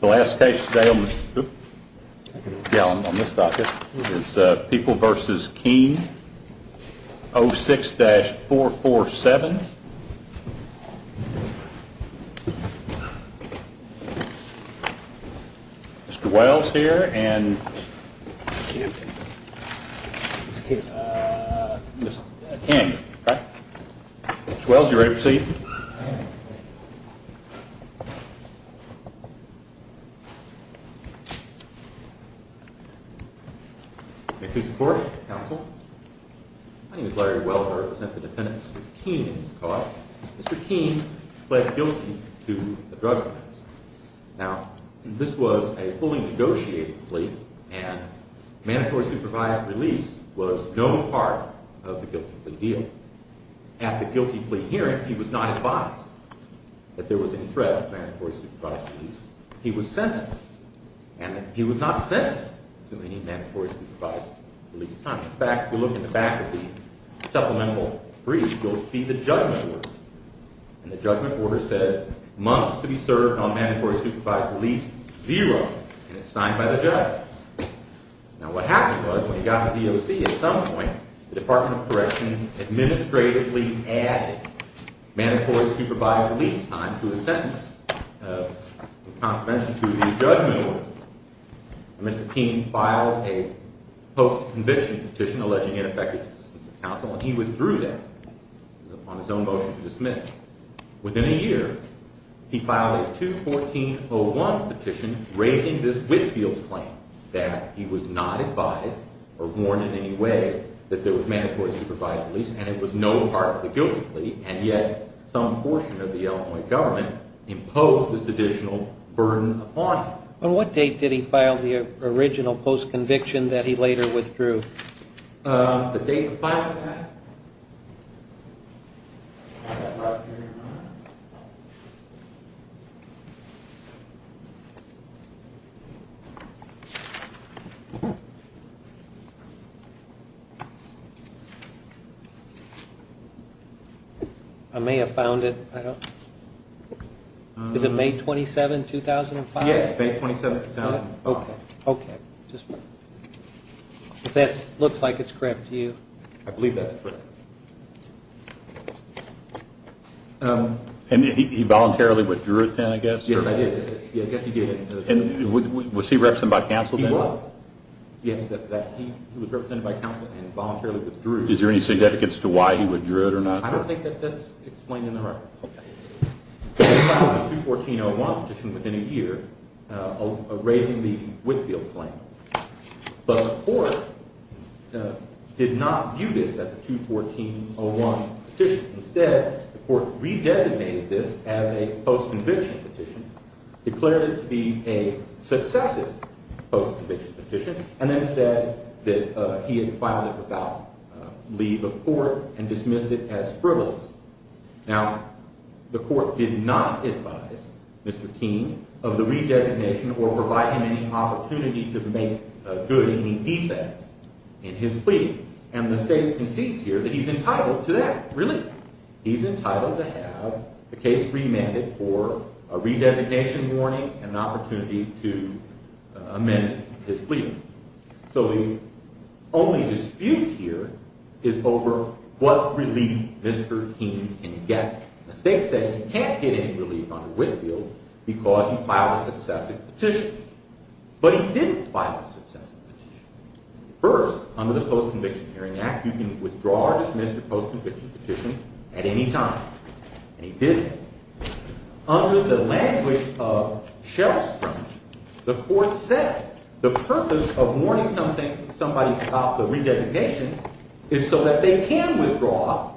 The last case today on this docket is People v. Keen, 06-447. Mr. Wells here and Ms. King. Mr. Wells, are you ready to proceed? All right. May I please report, counsel? My name is Larry Wells. I represent the defendant, Mr. Keen, in this court. Mr. Keen pled guilty to the drug offense. Now, this was a fully negotiated plea, and mandatory supervised release was no part of the guilty plea deal. At the guilty plea hearing, he was not advised that there was any threat of mandatory supervised release. He was sentenced, and he was not sentenced to any mandatory supervised release time. In fact, if you look in the back of the supplemental brief, you'll see the judgment order. And the judgment order says, months to be served on mandatory supervised release, zero. And it's signed by the judge. Now, what happened was, when he got the DOC, at some point, the Department of Corrections administratively added mandatory supervised release time to the sentence of contravention to the judgment order. Mr. Keen filed a post-conviction petition alleging ineffective assistance of counsel, and he withdrew that on his own motion to dismiss. Within a year, he filed a 214-01 petition raising this Whitefields claim, that he was not advised or warned in any way that there was mandatory supervised release, and it was no part of the guilty plea. And yet, some portion of the Illinois government imposed this additional burden upon him. On what date did he file the original post-conviction that he later withdrew? The date of filing that? I may have found it. Is it May 27, 2005? Yes, May 27, 2005. Okay, okay. That looks like it's correct to you. I believe that's correct. And he voluntarily withdrew it then, I guess? Yes, I did. And was he represented by counsel then? He was. Yes, he was represented by counsel and voluntarily withdrew. Is there any significance to why he withdrew it or not? I don't think that that's explained in the reference. He filed a 214-01 petition within a year of raising the Whitefields claim, but the court did not view this as a 214-01 petition. Instead, the court re-designated this as a post-conviction petition, declared it to be a successive post-conviction petition, and then said that he had filed it without leave of court and dismissed it as frivolous. Now, the court did not advise Mr. King of the re-designation or provide him any opportunity to make good any defect in his plea. And the state concedes here that he's entitled to that relief. He's entitled to have the case remanded for a re-designation warning and an opportunity to amend his plea. So the only dispute here is over what relief Mr. King can get. The state says he can't get any relief under Whitefield because he filed a successive petition. But he didn't file a successive petition. First, under the Post-Conviction Hearing Act, you can withdraw or dismiss a post-conviction petition at any time. And he didn't. Under the language of Shelstrom, the court says the purpose of warning somebody about the re-designation is so that they can withdraw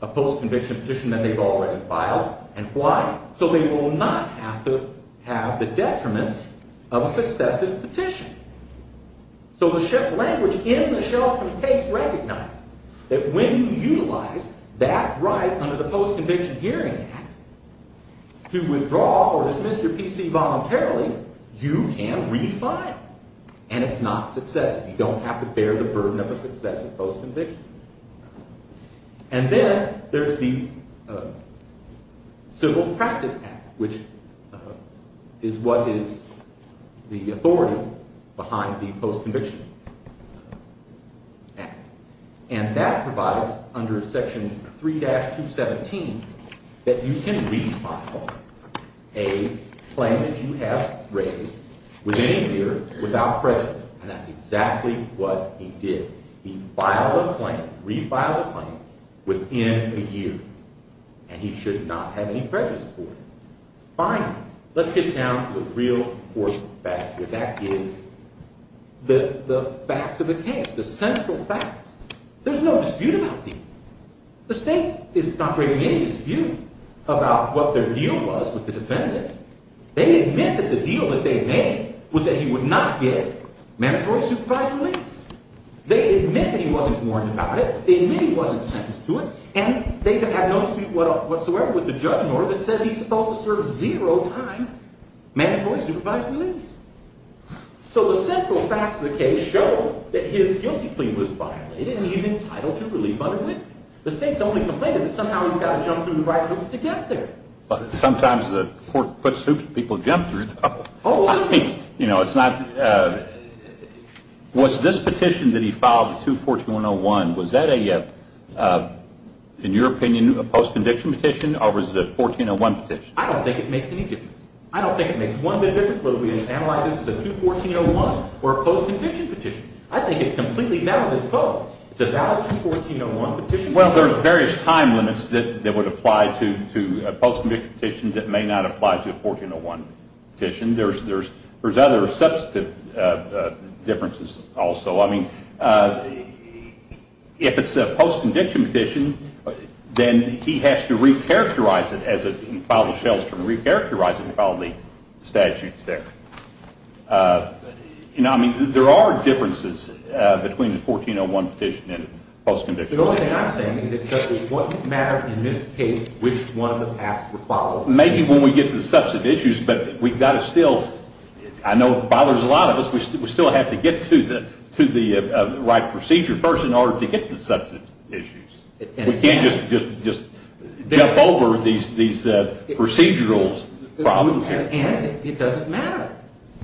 a post-conviction petition that they've already filed. And why? So they will not have to have the detriments of a successive petition. So the language in the Shelstrom case recognizes that when you utilize that right under the Post-Conviction Hearing Act to withdraw or dismiss your PC voluntarily, you can redefine it. And it's not successive. You don't have to bear the burden of a successive post-conviction. And then there's the Civil Practice Act, which is what is the authority behind the Post-Conviction Act. And that provides, under Section 3-217, that you can refile a claim that you have raised within a year without prejudice. And that's exactly what he did. He filed a claim, refiled a claim, within a year. And he should not have any prejudice for it. Fine. Let's get down to a real court fact here. That is the facts of the case, the central facts. There's no dispute about these. The state is not bringing any dispute about what their deal was with the defendant. They admit that the deal that they made was that he would not get mandatory supervised release. They admit that he wasn't warned about it. They admit he wasn't sentenced to it. And they have had no dispute whatsoever with the judge nor that says he's supposed to serve zero time mandatory supervised release. So the central facts of the case show that his guilty plea was violated, and he's entitled to relief under it. The state's only complaint is that somehow he's got to jump through the right hoops to get there. But sometimes the court puts people to jump through the hoops. Was this petition that he filed, the 214-101, was that, in your opinion, a post-conviction petition or was it a 1401 petition? I don't think it makes any difference. I don't think it makes one bit of difference whether we analyze this as a 214-01 or a post-conviction petition. I think it's completely valid as both. It's a valid 214-01 petition. Well, there's various time limits that would apply to a post-conviction petition that may not apply to a 1401 petition. There's other substantive differences also. I mean, if it's a post-conviction petition, then he has to recharacterize it, as in Fowler-Shelstrom, recharacterize it following the statutes there. I mean, there are differences between a 1401 petition and a post-conviction petition. The only thing I'm saying is it doesn't matter in this case which one of the paths were followed. Maybe when we get to the substantive issues, but we've got to still, I know it bothers a lot of us, we still have to get to the right procedure first in order to get to the substantive issues. We can't just jump over these procedural problems here. And it doesn't matter.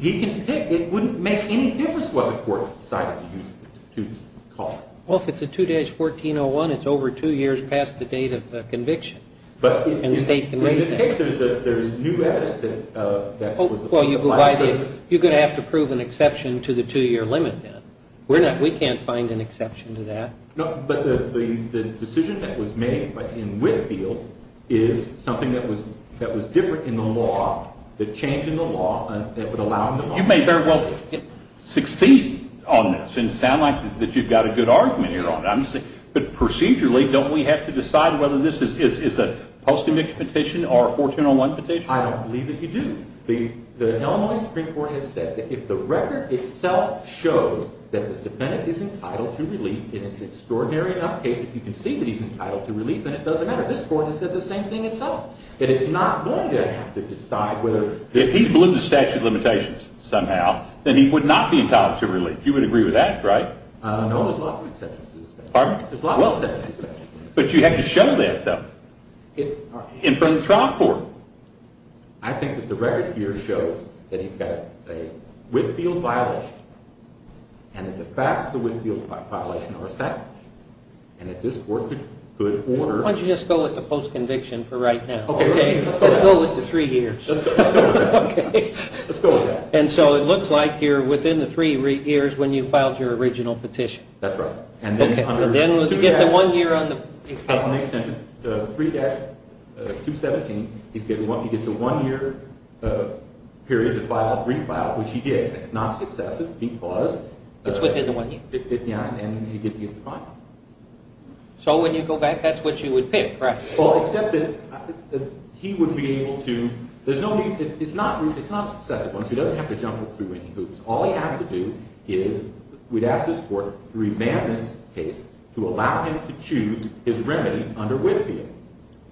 It wouldn't make any difference what the court decided to use the statute to call it. Well, if it's a 2-1401, it's over two years past the date of conviction and state conviction. In this case, there's new evidence that would apply to prison. You're going to have to prove an exception to the two-year limit, then. We can't find an exception to that. No, but the decision that was made in Whitfield is something that was different in the law, the change in the law that would allow them to succeed on this. And it sounds like you've got a good argument here on it. But procedurally, don't we have to decide whether this is a post-conviction petition or a 1401 petition? I don't believe that you do. The Illinois Supreme Court has said that if the record itself shows that this defendant is entitled to relief, and it's an extraordinary enough case that you can see that he's entitled to relief, then it doesn't matter. This Court has said the same thing itself. That it's not going to have to decide whether— If he blims the statute of limitations somehow, then he would not be entitled to relief. You would agree with that, right? No, there's lots of exceptions to the statute. Pardon? There's lots of exceptions to the statute. But you have to show that, though. In front of the trial court. I think that the record here shows that he's got a Whitfield violation, and that the facts of the Whitfield violation are established. And that this Court could order— Why don't you just go with the post-conviction for right now? Okay, let's go with that. Let's go with the three years. Let's go with that. Okay. Let's go with that. And so it looks like you're within the three years when you filed your original petition. That's right. And then you get the one year on the extension. The 3-217, he gets a one-year period to file a brief file, which he did. It's not successive because— It's within the one year. Yeah, and he gets the final. So when you go back, that's what you would pick, correct? Well, except that he would be able to— It's not successive once. He doesn't have to jump through any hoops. All he has to do is—we'd ask this Court to remand this case to allow him to choose his remedy under Whitfield.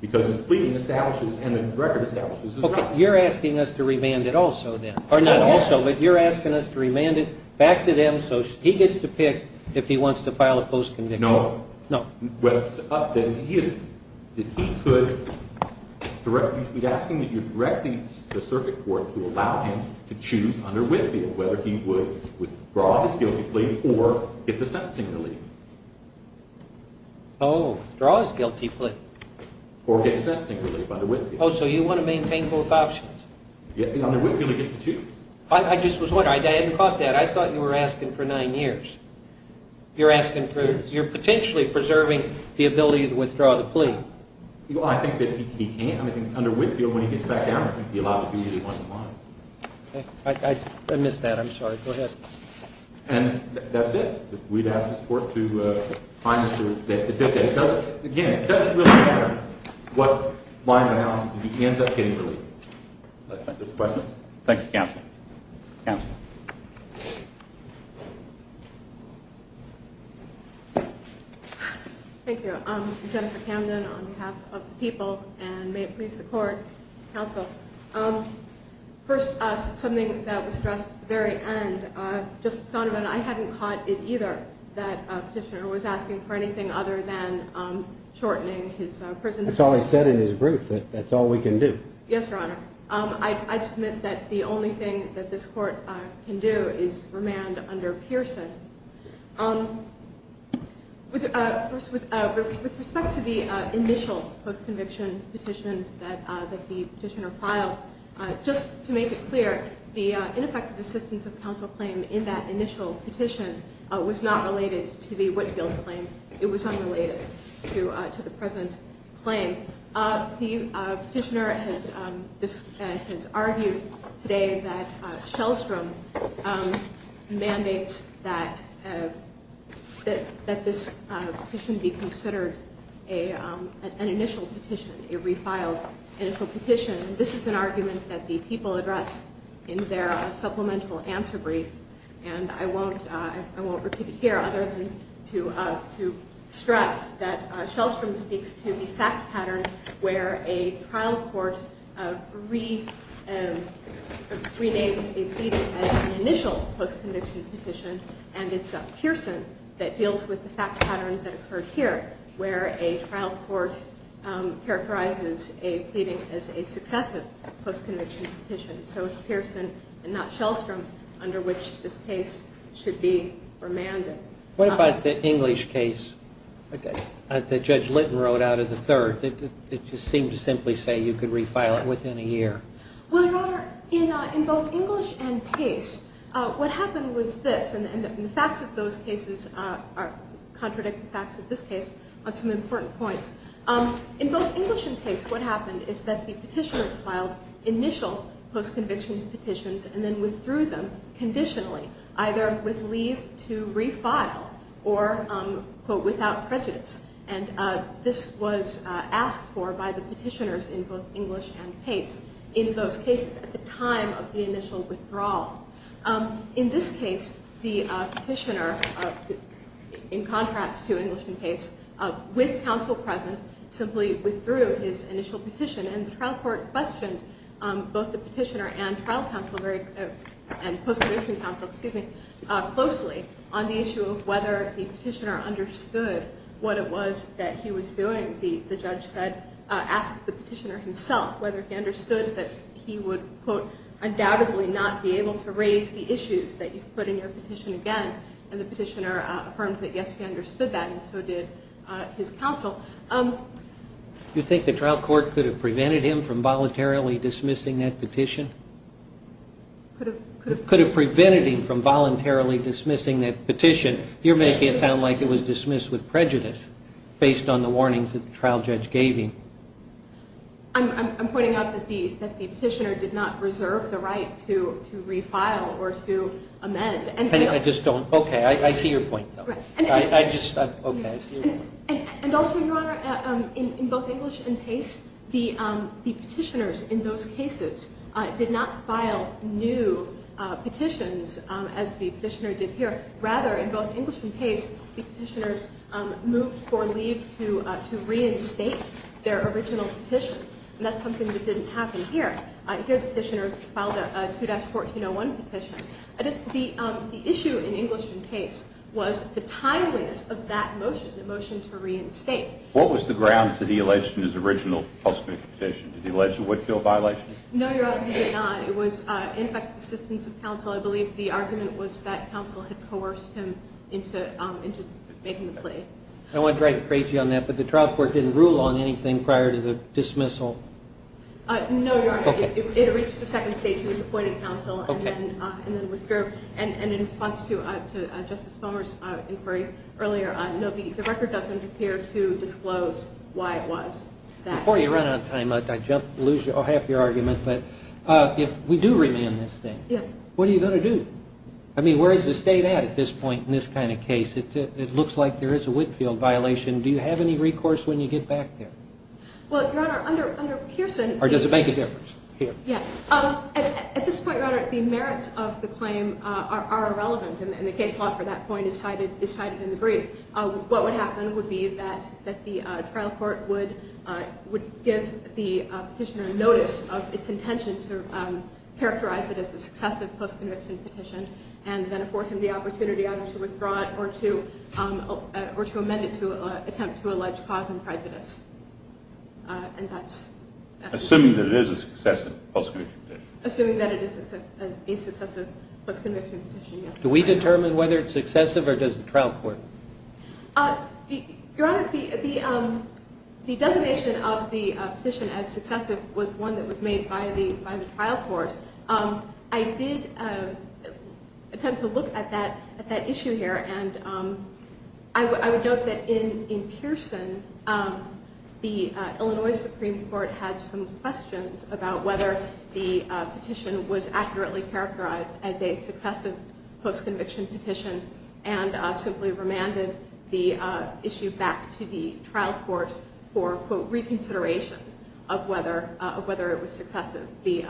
Because his pleading establishes, and the record establishes, his right. Okay, you're asking us to remand it also then. Or not also, but you're asking us to remand it back to them So he gets to pick if he wants to file a post-conviction. No. No. Well, then he could—we'd ask him that you direct the Circuit Court to allow him to choose under Whitfield whether he would withdraw his guilty plea or get the sentencing relief. Oh, withdraw his guilty plea. Or get the sentencing relief under Whitfield. Oh, so you want to maintain both options? Under Whitfield, he gets to choose. I just was wondering. I hadn't thought that. I thought you were asking for nine years. You're asking for—you're potentially preserving the ability to withdraw the plea. Well, I think that he can. I think under Whitfield, when he gets back down, he'll be allowed to do either one or the other. I missed that. I'm sorry. Go ahead. And that's it. We'd ask this Court to find— Again, it doesn't really matter what line of analysis he ends up getting relief. Questions? Thank you, Counsel. Counsel. Thank you. I'm Jennifer Camden on behalf of the people, and may it please the Court, Counsel. First, something that was stressed at the very end. Just a moment. I hadn't caught it either that the Petitioner was asking for anything other than shortening his prison sentence. That's all he said in his brief, that that's all we can do. Yes, Your Honor. I'd submit that the only thing that this Court can do is remand under Pearson. With respect to the initial post-conviction petition that the Petitioner filed, just to make it clear, the ineffective assistance of counsel claim in that initial petition was not related to the Whitfield claim. It was unrelated to the present claim. The Petitioner has argued today that Shellstrom mandates that this petition be considered an initial petition, a refiled initial petition. This is an argument that the people addressed in their supplemental answer brief, and I won't repeat it here other than to stress that Shellstrom speaks to the fact pattern where a trial court renames a pleading as an initial post-conviction petition, and it's Pearson that deals with the fact pattern that occurred here, where a trial court characterizes a pleading as a successive post-conviction petition. So it's Pearson and not Shellstrom under which this case should be remanded. What about the English case that Judge Litton wrote out of the third? It just seemed to simply say you could refile it within a year. Well, Your Honor, in both English and Pace, what happened was this, and the facts of those cases contradict the facts of this case on some important points. In both English and Pace, what happened is that the Petitioners filed initial post-conviction petitions and then withdrew them conditionally, either with leave to refile or without prejudice, and this was asked for by the Petitioners in both English and Pace in those cases at the time of the initial withdrawal. In this case, the Petitioner, in contrast to English and Pace, with counsel present simply withdrew his initial petition, and the trial court questioned both the Petitioner and post-conviction counsel closely on the issue of whether the Petitioner understood what it was that he was doing. The judge asked the Petitioner himself whether he understood that he would, quote, undoubtedly not be able to raise the issues that you've put in your petition again, and the Petitioner affirmed that, yes, he understood that, and so did his counsel. You think the trial court could have prevented him from voluntarily dismissing that petition? Could have prevented him from voluntarily dismissing that petition. You're making it sound like it was dismissed with prejudice based on the warnings that the trial judge gave him. I'm pointing out that the Petitioner did not reserve the right to refile or to amend. I just don't. Okay. I see your point, though. And also, Your Honor, in both English and Pace, the Petitioners in those cases did not file new petitions as the Petitioner did here. Rather, in both English and Pace, the Petitioners moved for leave to reinstate their original petitions, and that's something that didn't happen here. Here the Petitioner filed a 2-1401 petition. The issue in English and Pace was the timeliness of that motion, the motion to reinstate. What was the grounds that he alleged in his original post-conviction petition? Did he allege a Whitfield violation? No, Your Honor, he did not. It was in effect assistance of counsel. I believe the argument was that counsel had coerced him into making the plea. I don't want to drive you crazy on that, but the trial court didn't rule on anything prior to the dismissal? No, Your Honor. Okay. It reached the second stage. He was appointed counsel. Okay. And then withdrew. And in response to Justice Fulmer's inquiry earlier, no, the record doesn't appear to disclose why it was that way. Before you run out of time, I'd jump and lose half your argument, but if we do remand this thing, what are you going to do? I mean, where is the state at at this point in this kind of case? It looks like there is a Whitfield violation. Do you have any recourse when you get back there? Well, Your Honor, under Pearson— Or does it make a difference here? Yeah. At this point, Your Honor, the merits of the claim are irrelevant, and the case law for that point is cited in the brief. What would happen would be that the trial court would give the petitioner notice of its intention to characterize it as a successive post-conviction petition and then afford him the opportunity either to withdraw it or to amend it to attempt to allege cause and prejudice, and that's— Assuming that it is a successive post-conviction petition. Assuming that it is a successive post-conviction petition, yes. Do we determine whether it's successive or does the trial court? Your Honor, the designation of the petition as successive was one that was made by the trial court. I did attempt to look at that issue here, and I would note that in Pearson, the Illinois Supreme Court had some questions about whether the petition was a post-conviction petition and simply remanded the issue back to the trial court for, quote, reconsideration of whether it was successive. The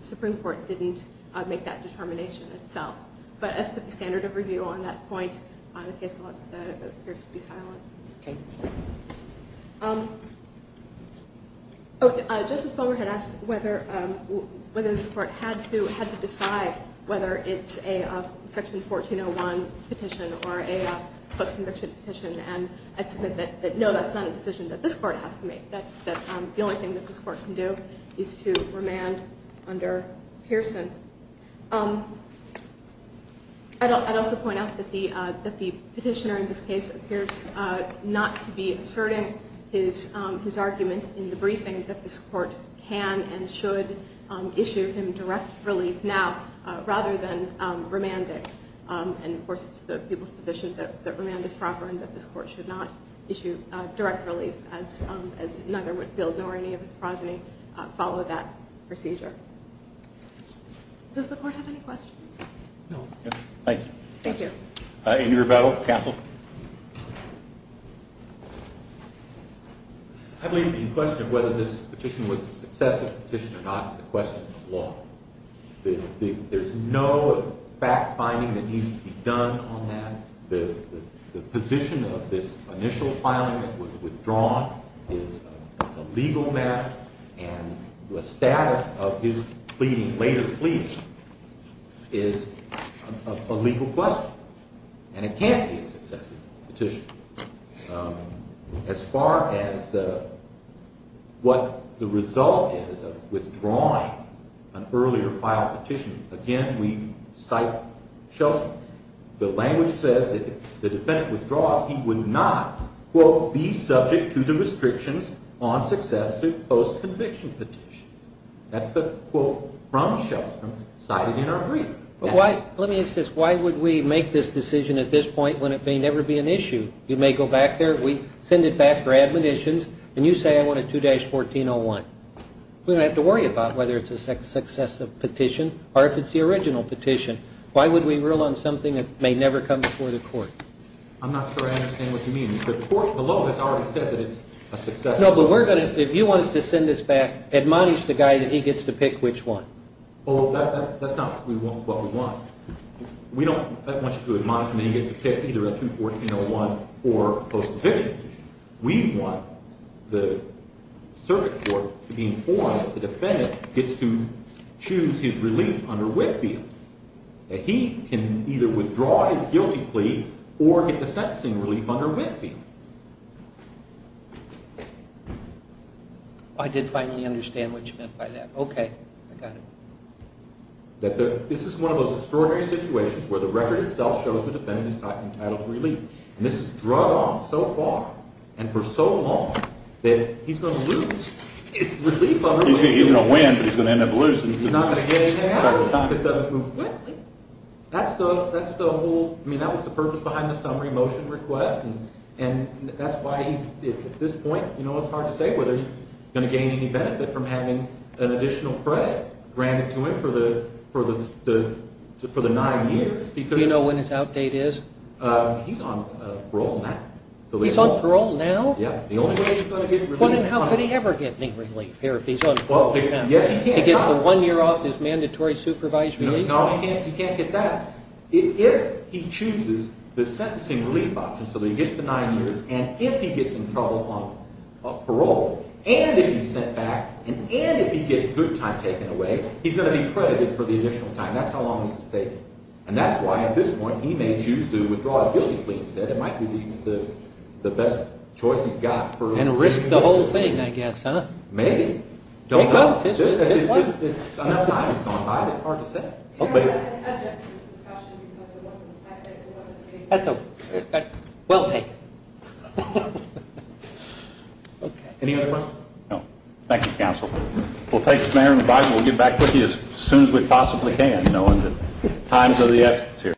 Supreme Court didn't make that determination itself. But as to the standard of review on that point, the case law appears to be silent. Okay. Justice Ballmer had asked whether this Court had to decide whether it's a Section 1401 petition or a post-conviction petition, and I'd submit that, no, that's not a decision that this Court has to make, that the only thing that this Court can do is to remand under Pearson. I'd also point out that the petitioner in this case appears not to be asserting his argument in the briefing that this Court can and should issue him direct relief now rather than remand it. And, of course, it's the people's position that remand is proper and that this Court should not issue direct relief, as none or any of its progeny follow that procedure. Does the Court have any questions? No. Thank you. Thank you. Andrew Rebello, counsel. I believe the question of whether this petition was a successive petition or not is a question of law. There's no fact-finding that needs to be done on that. The position of this initial filing that was withdrawn is a legal matter, and the status of his later pleadings is a legal question, and it can't be a successive petition. As far as what the result is of withdrawing an earlier filed petition, again, we cite Shelton. The language says that if the defendant withdraws, he would not, quote, be subject to the restrictions on successive post-conviction petitions. That's the quote from Shelton cited in our briefing. Let me ask this. Why would we make this decision at this point when it may never be an issue? You may go back there. We send it back for admonitions, and you say I want a 2-1401. We don't have to worry about whether it's a successive petition or if it's the original petition. Why would we rule on something that may never come before the court? I'm not sure I understand what you mean. The court below has already said that it's a successive petition. No, but we're going to, if you want us to send this back, admonish the guy that he gets to pick which one. Oh, that's not what we want. We don't want you to admonish him that he gets to pick either a 2-1401 or post-conviction petition. We want the circuit court to be informed that the defendant gets to choose his relief under Whitfield, that he can either withdraw his guilty plea or get the sentencing relief under Whitfield. I did finally understand what you meant by that. Okay, I got it. This is one of those extraordinary situations where the record itself shows the defendant is not entitled to relief. And this has dragged on so far and for so long that he's going to lose his relief under Whitfield. He's going to win, but he's going to end up losing. He's not going to get anything out of the circuit that doesn't move quickly. That's the whole, I mean, that was the purpose behind the summary motion request, and that's why at this point it's hard to say whether he's going to gain any benefit from having an additional credit granted to him for the 9 years. Do you know when his outdate is? He's on parole now. He's on parole now? Yeah, the only way he's going to get relief. Well, then how could he ever get any relief here if he's on parole? Yes, he can. He gets the one year off his mandatory supervised release? No, he can't get that. If he chooses the sentencing relief option so that he gets the 9 years, and if he gets in trouble on parole, and if he's sent back, and if he gets good time taken away, he's going to be credited for the additional time. That's how long this is taking. And that's why at this point he may choose to withdraw his guilty plea instead. It might be the best choice he's got. And risk the whole thing, I guess, huh? Maybe. Don't know. It's gone by. It's hard to say. I object to this discussion because it wasn't decided. That's okay. We'll take it. Any other questions? No. Thank you, counsel. We'll take this matter in writing. We'll get back with you as soon as we possibly can, knowing the times of the absence here.